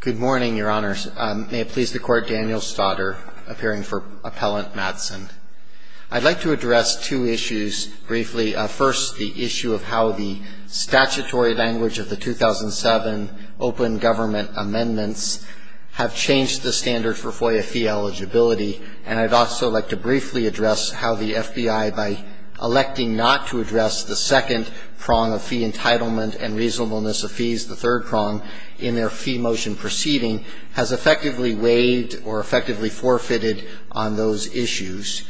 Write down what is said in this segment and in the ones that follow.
Good morning, Your Honor. May it please the Court, Daniel Staudter, appearing for Appellant Mattson. I'd like to address two issues briefly. First, the issue of how the statutory language of the 2007 Open Government Amendments have changed the standard for FOIA fee eligibility, and I'd also like to briefly address how the FBI, by electing not to address the second prong of fee entitlement and reasonableness of fees, the third prong, in their fee motion proceeding, has effectively waived or effectively forfeited on those issues.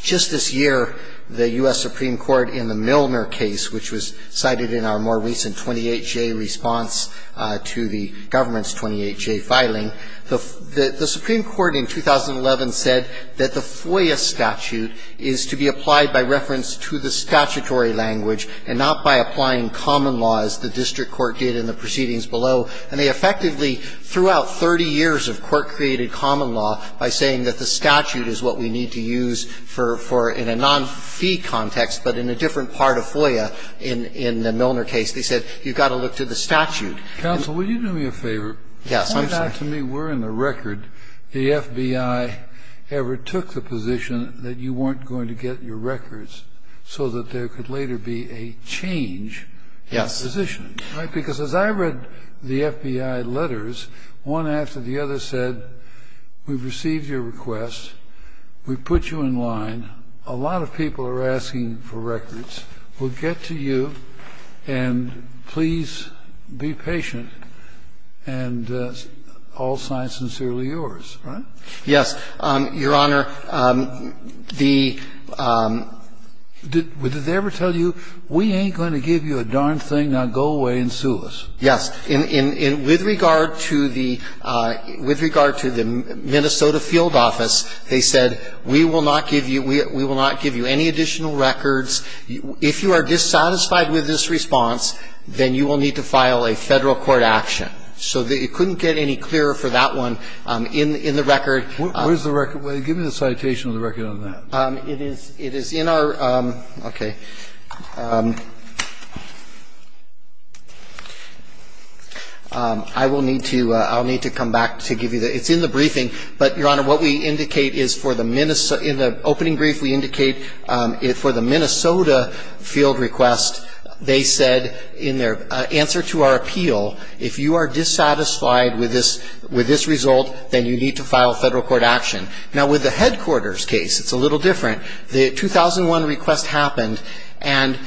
Just this year, the U.S. Supreme Court in the Milner case, which was cited in our more recent 28-J response to the government's 28-J filing, the Supreme Court in 2011 said that the statutory language, and not by applying common law as the district court did in the proceedings below, and they effectively, throughout 30 years of court-created common law, by saying that the statute is what we need to use for in a non-fee context, but in a different part of FOIA in the Milner case, they said you've got to look to the statute. Kennedy. Counsel, will you do me a favor? Yes, I'm sorry. To me, we're in the record. The FBI ever took the position that you weren't going to get your records so that there could later be a change in positioning. Yes. Right? Because as I read the FBI letters, one after the other said, we've received your request, we've put you in line, a lot of people are asking for records. We'll get to you, and please be patient, and all signs sincerely yours. Right? Yes, Your Honor. The – did they ever tell you, we ain't going to give you a darn thing, now go away and sue us? Yes. With regard to the – with regard to the Minnesota field office, they said, we will not give you – we will not give you any additional records. If you are dissatisfied with this response, then you will need to file a Federal court action. So it couldn't get any clearer for that one in the record. Where's the record? Give me the citation of the record on that. It is – it is in our – okay. I will need to – I'll need to come back to give you the – it's in the briefing, but, Your Honor, what we indicate is for the – in the opening brief, we indicate for the Minnesota field request, they said in their answer to our appeal, if you are dissatisfied with this – with this result, then you need to file a Federal court action. Now, with the headquarters case, it's a little different. The 2001 request happened, and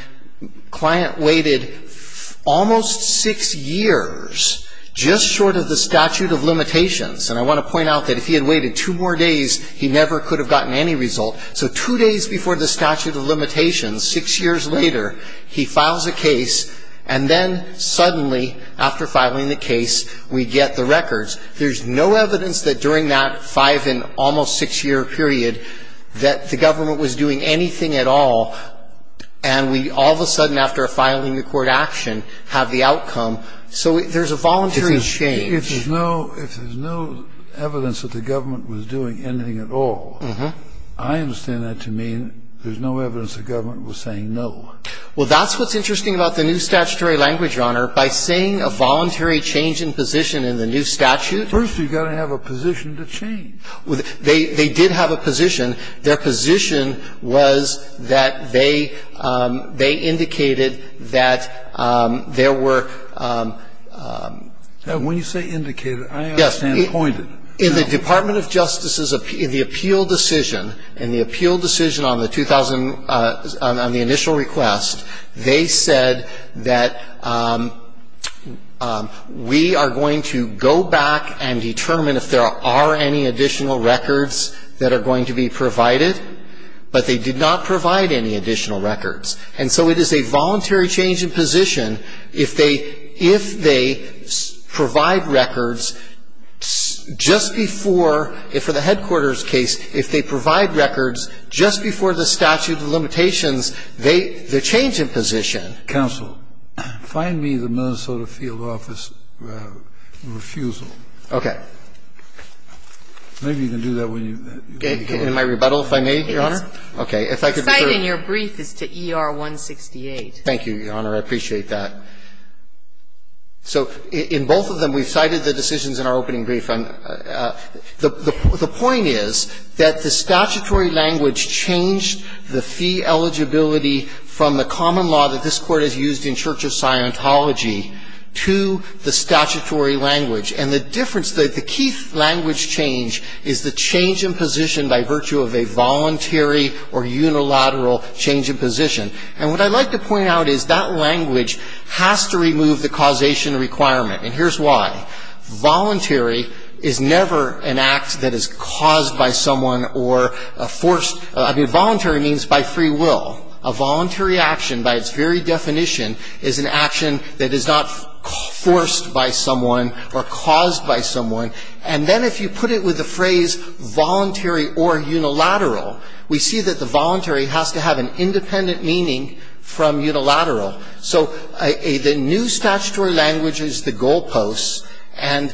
client waited almost six years, just short of the statute of limitations. And I want to point out that if he had waited two more days, he never could have gotten any result. So two days before the statute of limitations, six years later, he files a case, and then suddenly, after filing the case, we get the records. There's no evidence that during that five-and-almost-six-year period that the government was doing anything at all, and we all of a sudden, after filing the court action, have the outcome. So there's a voluntary change. If there's no – if there's no evidence that the government was doing anything at all, I understand that to mean there's no evidence the government was saying no. Well, that's what's interesting about the new statutory language, Your Honor. By saying a voluntary change in position in the new statute – First, you've got to have a position to change. They did have a position. Their position was that they indicated that there were – When you say indicated, I understand pointed. Yes. In the Department of Justice's – in the appeal decision, in the appeal decision on the 2000 – on the initial request, they said that we are going to go back and determine if there are any additional records that are going to be provided, but they did not provide any additional records. And so it is a voluntary change in position if they – if they provide records just before – for the headquarters case, if they provide records just before the statute of limitations, they change in position. Counsel, find me the Minnesota field office refusal. Okay. Maybe you can do that when you get it. In my rebuttal, if I may, Your Honor? Yes. Okay. If I could be briefed. The cite in your brief is to ER-168. Thank you, Your Honor. I appreciate that. So in both of them, we cited the decisions in our opening brief. The point is that the statutory language changed the fee eligibility from the common law that this Court has used in Church of Scientology to the statutory language. And the difference – the key language change is the change in position by virtue of a voluntary or unilateral change in position. And what I'd like to point out is that language has to remove the causation requirement. And here's why. Voluntary is never an act that is caused by someone or forced – I mean, voluntary means by free will. A voluntary action, by its very definition, is an action that is not forced by someone or caused by someone. And then if you put it with the phrase voluntary or unilateral, we see that the voluntary has to have an independent meaning from unilateral. So the new statutory language is the goalposts. And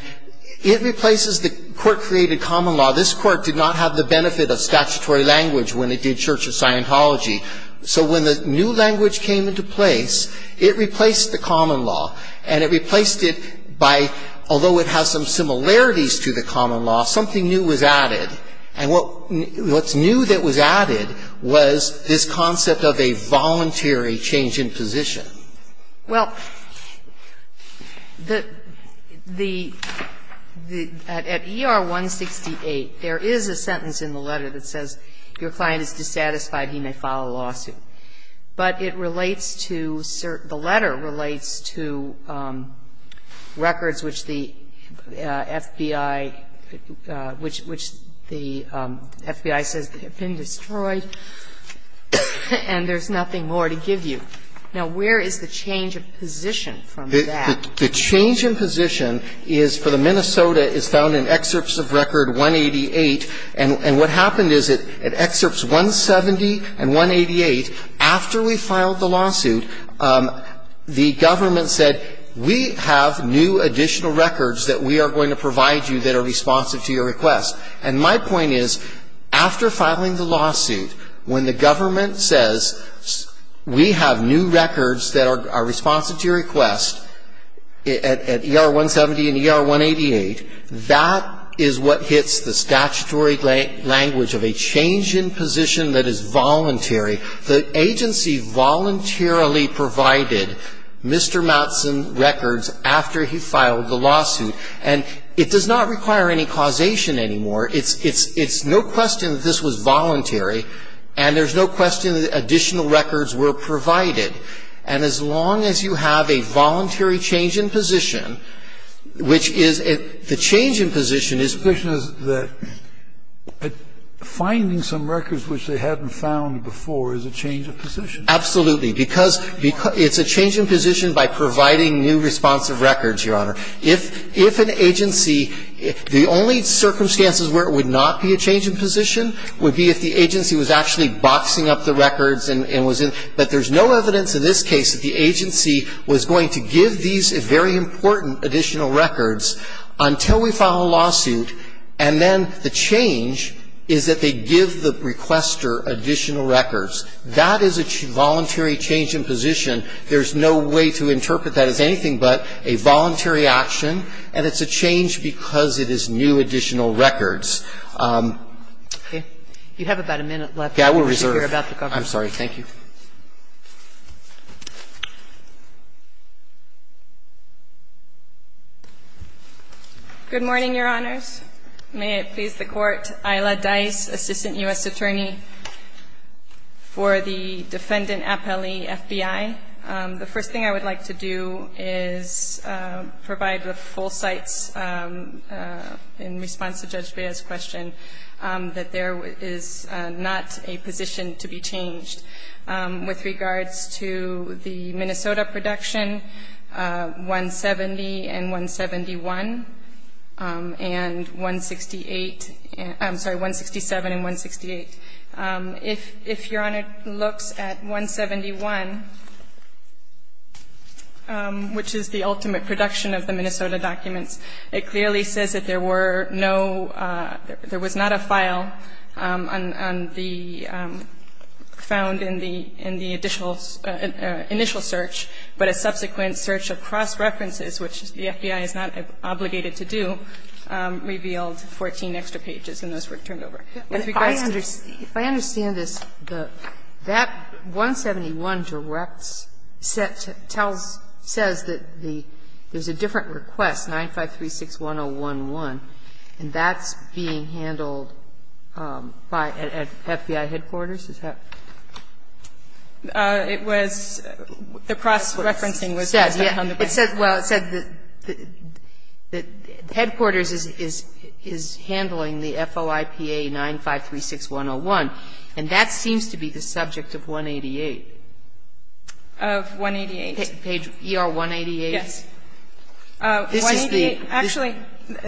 it replaces the court-created common law. This Court did not have the benefit of statutory language when it did Church of Scientology. So when the new language came into place, it replaced the common law. And it replaced it by – although it has some similarities to the common law, something new was added. And what's new that was added was this concept of a voluntary change in position. Well, the – at ER-168, there is a sentence in the letter that says, if your client is dissatisfied, he may file a lawsuit. But it relates to – the letter relates to records which the FBI – which the FBI says have been destroyed and there's nothing more to give you. Now, where is the change of position from that? The change in position is for the – Minnesota is found in Excerpts of Record 188. And what happened is that at Excerpts 170 and 188, after we filed the lawsuit, the government said, we have new additional records that we are going to provide you that are responsive to your request. And my point is, after filing the lawsuit, when the government says, we have new records that are responsive to your request at ER-170 and ER-188, that is what hits the statutory language of a change in position that is voluntary. The agency voluntarily provided Mr. Mattson records after he filed the lawsuit. And it does not require any causation anymore. It's no question that this was voluntary. And there's no question that additional records were provided. And as long as you have a voluntary change in position, which is – the change in position is – The question is that finding some records which they hadn't found before is a change of position. Absolutely. Because it's a change in position by providing new responsive records, Your Honor. If an agency – the only circumstances where it would not be a change in position would be if the agency was actually boxing up the records and was in – but there's no evidence in this case that the agency was going to give these very important additional records until we file a lawsuit. And then the change is that they give the requester additional records. That is a voluntary change in position. There's no way to interpret that as anything but a voluntary action. And it's a change because it is new additional records. Okay. You have about a minute left. I will reserve. I'm sorry. Good morning, Your Honors. May it please the Court. Isla Dice, Assistant U.S. Attorney for the Defendant Appellee, FBI. The first thing I would like to do is provide the full cites in response to Judge Bea's question that there is not a position to be changed with regards to the Minnesota production, 170 and 171, and 168 – I'm sorry, 167 and 168. If Your Honor looks at 171, which is the ultimate production of the Minnesota documents, it clearly says that there were no – there was not a file on the – found in the initial search, but a subsequent search of cross-references, which the FBI is not obligated to do, revealed 14 extra pages, and those were turned over. If I understand this, that 171 directs – tells – says that there's a different request, 9536-1011, and that's being handled by FBI headquarters? It was – the cross-referencing was on the back. It said – well, it said that headquarters is handling the FOIPA 9536-101, and that seems to be the subject of 188. Of 188? Page ER-188. Yes. This is the – Actually,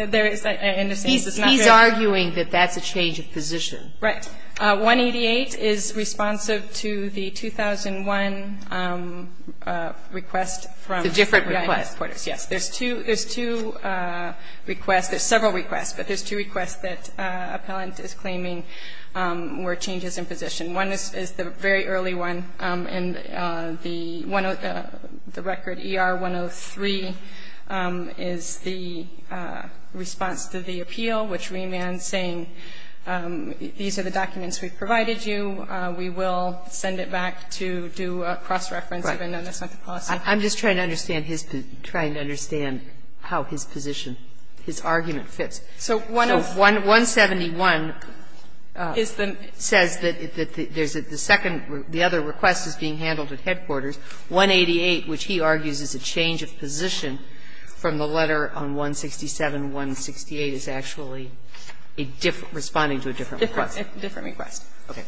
there is – and it seems it's not there. He's arguing that that's a change of position. Right. 188 is responsive to the 2001 request from – The different request. Yes. There's two – there's two requests – there's several requests, but there's two requests that appellant is claiming were changes in position. One is the very early one, and the – the record ER-103 is the response to the We will send it back to do a cross-reference, even though that's not the policy. Right. I'm just trying to understand his – trying to understand how his position, his argument fits. So one of – So 171 says that there's a – the second – the other request is being handled at headquarters. 188, which he argues is a change of position from the letter on 167, 168, is actually a different – responding to a different request. A different request. Okay.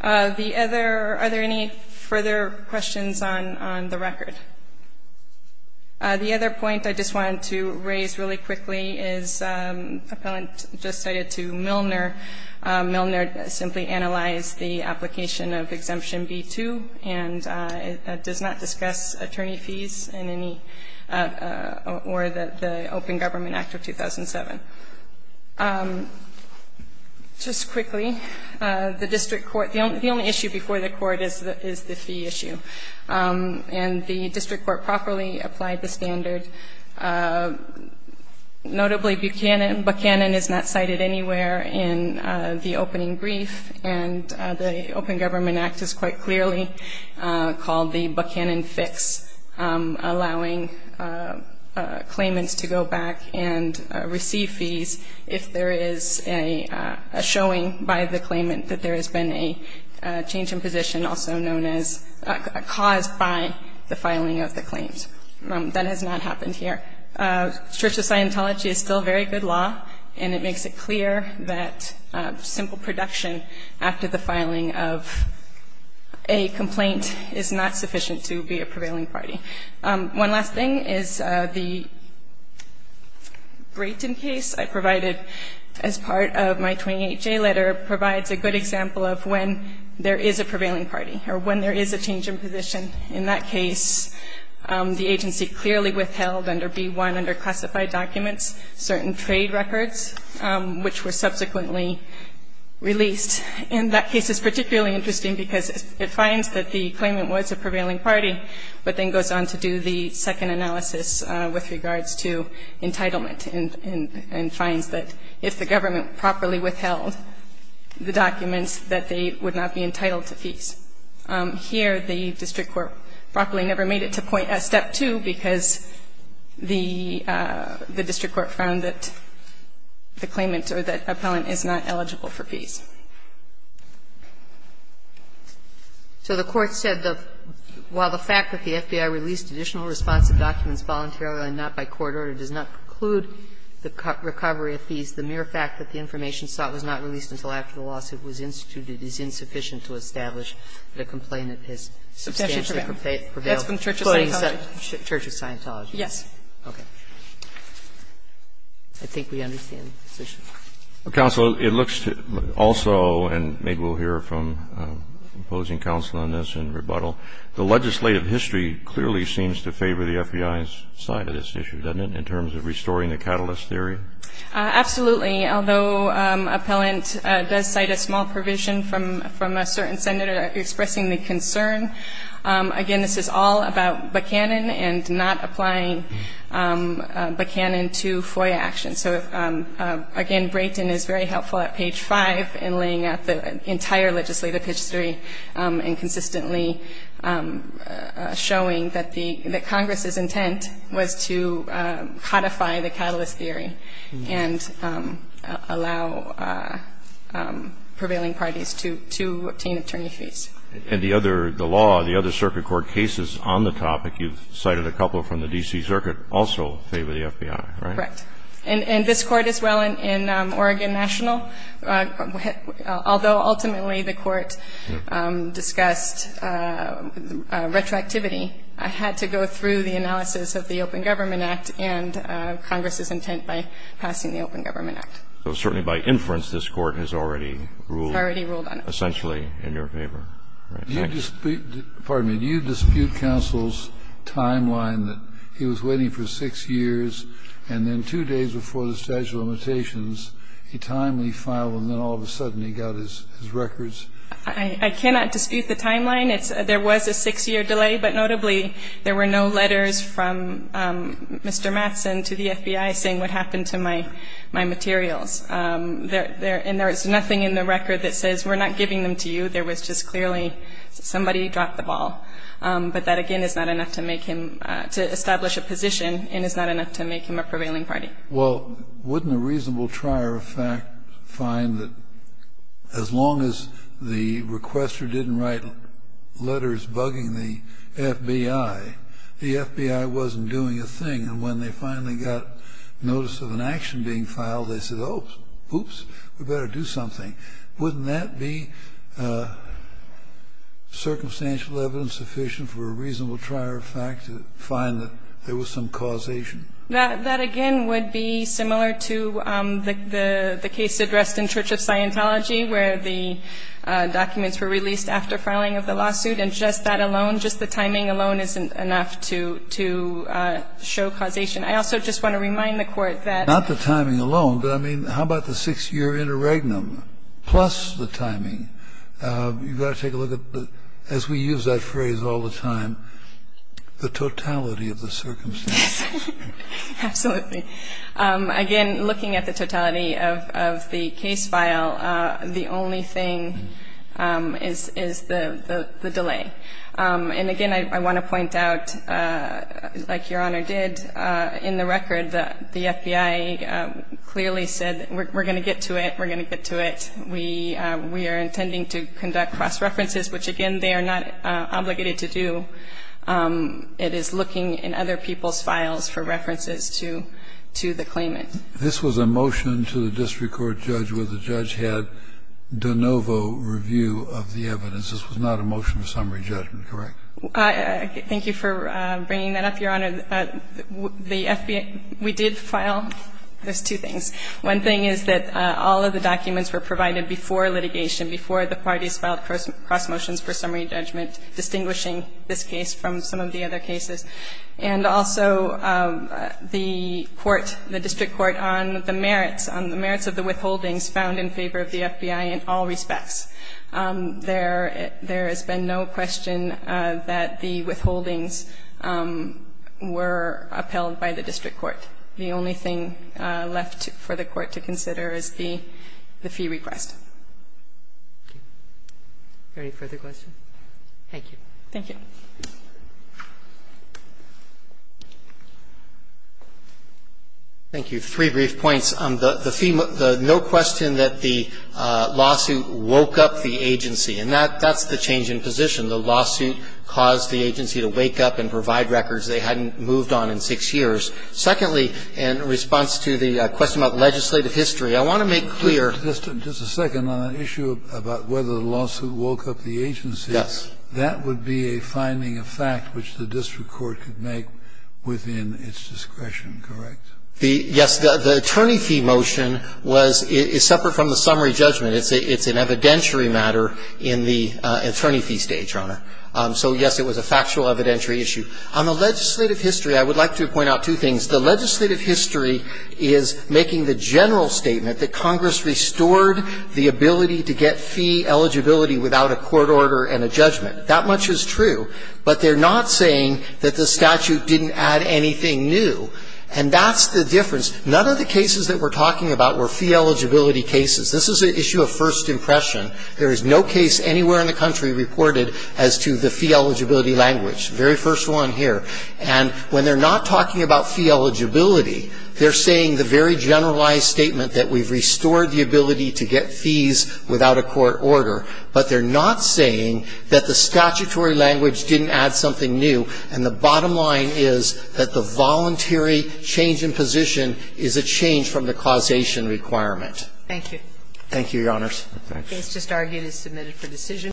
The other – are there any further questions on the record? The other point I just wanted to raise really quickly is appellant just cited to Milner. Milner simply analyzed the application of Exemption B-2 and does not discuss attorney fees in any – or the Open Government Act of 2007. Just quickly, the district court – the only issue before the court is the fee issue. And the district court properly applied the standard, notably Buchanan. Buchanan is not cited anywhere in the opening brief, and the Open Government Act is quite clearly called the Buchanan fix, allowing claimants to go back and receive fees if there is a showing by the claimant that there has been a change in position, also known as caused by the filing of the claims. That has not happened here. Church of Scientology is still very good law, and it makes it clear that simple production after the filing of a complaint is not sufficient to be a prevailing party. One last thing is the Brayton case I provided as part of my 28J letter provides a good example of when there is a prevailing party or when there is a change in position. In that case, the agency clearly withheld under B-1, under classified documents, certain trade records which were subsequently released. And that case is particularly interesting because it finds that the claimant was a prevailing party, but then goes on to do the second analysis with regards to entitlement and finds that if the government properly withheld the documents, that they would not be entitled to fees. Here, the district court properly never made it to step 2 because the district court found that the claimant or that appellant is not eligible for fees. So the court said, while the fact that the FBI released additional responsive documents voluntarily and not by court order does not preclude the recovery of fees, the mere fact that the information sought was not released until after the lawsuit was instituted is insufficient to establish that a complainant has substantially prevailed. That's from Church of Scientology. Church of Scientology. Yes. Okay. I think we understand the position. Counsel, it looks also, and maybe we'll hear from opposing counsel on this in rebuttal, the legislative history clearly seems to favor the FBI's side of this issue, doesn't it, in terms of restoring the catalyst theory? Absolutely. Although appellant does cite a small provision from a certain senator expressing the concern, again, this is all about Buchanan and not applying Buchanan to FOIA action. So, again, Brayton is very helpful at page 5 in laying out the entire legislative history and consistently showing that Congress's intent was to codify the catalyst theory and allow prevailing parties to obtain attorney fees. And the other, the law, the other circuit court cases on the topic, you've cited a couple from the D.C. Circuit, also favor the FBI, right? Correct. And this Court as well in Oregon National, although ultimately the Court discussed retroactivity, had to go through the analysis of the Open Government Act and Congress's intent by passing the Open Government Act. So certainly by inference, this Court has already ruled. Already ruled on it. Essentially in your favor. Right. Thanks. And just to you, Your Honor, two days before the statute of limitations, he timely filed and then all of a sudden he got his records. I cannot dispute the timeline. There was a six-year delay, but notably there were no letters from Mr. Mattson to the FBI saying what happened to my materials. And there was nothing in the record that says we're not giving them to you. There was just clearly somebody dropped the ball. But that, again, is not enough to make him to establish a position and is not enough to make him a prevailing party. Well, wouldn't a reasonable trier of fact find that as long as the requester didn't write letters bugging the FBI, the FBI wasn't doing a thing? And when they finally got notice of an action being filed, they said, oh, oops, we better do something. Wouldn't that be circumstantial evidence sufficient for a reasonable trier of fact to find that there was some causation? That, again, would be similar to the case addressed in Church of Scientology where the documents were released after filing of the lawsuit, and just that alone, just the timing alone isn't enough to show causation. I also just want to remind the Court that Not the timing alone, but I mean how about the six-year interregnum? Plus the timing. You've got to take a look at the, as we use that phrase all the time, the totality of the circumstances. Absolutely. Again, looking at the totality of the case file, the only thing is the delay. And, again, I want to point out, like Your Honor did, in the record, the FBI clearly said we're going to get to it, we're going to get to it. We are intending to conduct cross-references, which, again, they are not obligated to do. It is looking in other people's files for references to the claimant. This was a motion to the district court judge where the judge had de novo review of the evidence. This was not a motion of summary judgment, correct? Thank you for bringing that up, Your Honor. The FBI, we did file, there's two things. One thing is that all of the documents were provided before litigation, before the parties filed cross motions for summary judgment, distinguishing this case from some of the other cases. And also the court, the district court, on the merits, on the merits of the withholdings found in favor of the FBI in all respects. There has been no question that the withholdings were upheld by the district court. The only thing left for the court to consider is the fee request. Any further questions? Thank you. Thank you. Thank you. Three brief points. First, the no question that the lawsuit woke up the agency. And that's the change in position. The lawsuit caused the agency to wake up and provide records they hadn't moved on in six years. Secondly, in response to the question about legislative history, I want to make clear. Just a second. On the issue about whether the lawsuit woke up the agency. Yes. That would be a finding of fact which the district court could make within its discretion, correct? Yes. The attorney fee motion was separate from the summary judgment. It's an evidentiary matter in the attorney fee stage, Your Honor. So, yes, it was a factual evidentiary issue. On the legislative history, I would like to point out two things. The legislative history is making the general statement that Congress restored the ability to get fee eligibility without a court order and a judgment. That much is true. But they're not saying that the statute didn't add anything new. And that's the difference. None of the cases that we're talking about were fee eligibility cases. This is an issue of first impression. There is no case anywhere in the country reported as to the fee eligibility language. Very first one here. And when they're not talking about fee eligibility, they're saying the very generalized statement that we've restored the ability to get fees without a court order. But they're not saying that the statutory language didn't add something new. And the bottom line is that the voluntary change in position is a change from the causation requirement. Thank you. Thank you, Your Honors. The case just argued is submitted for decision.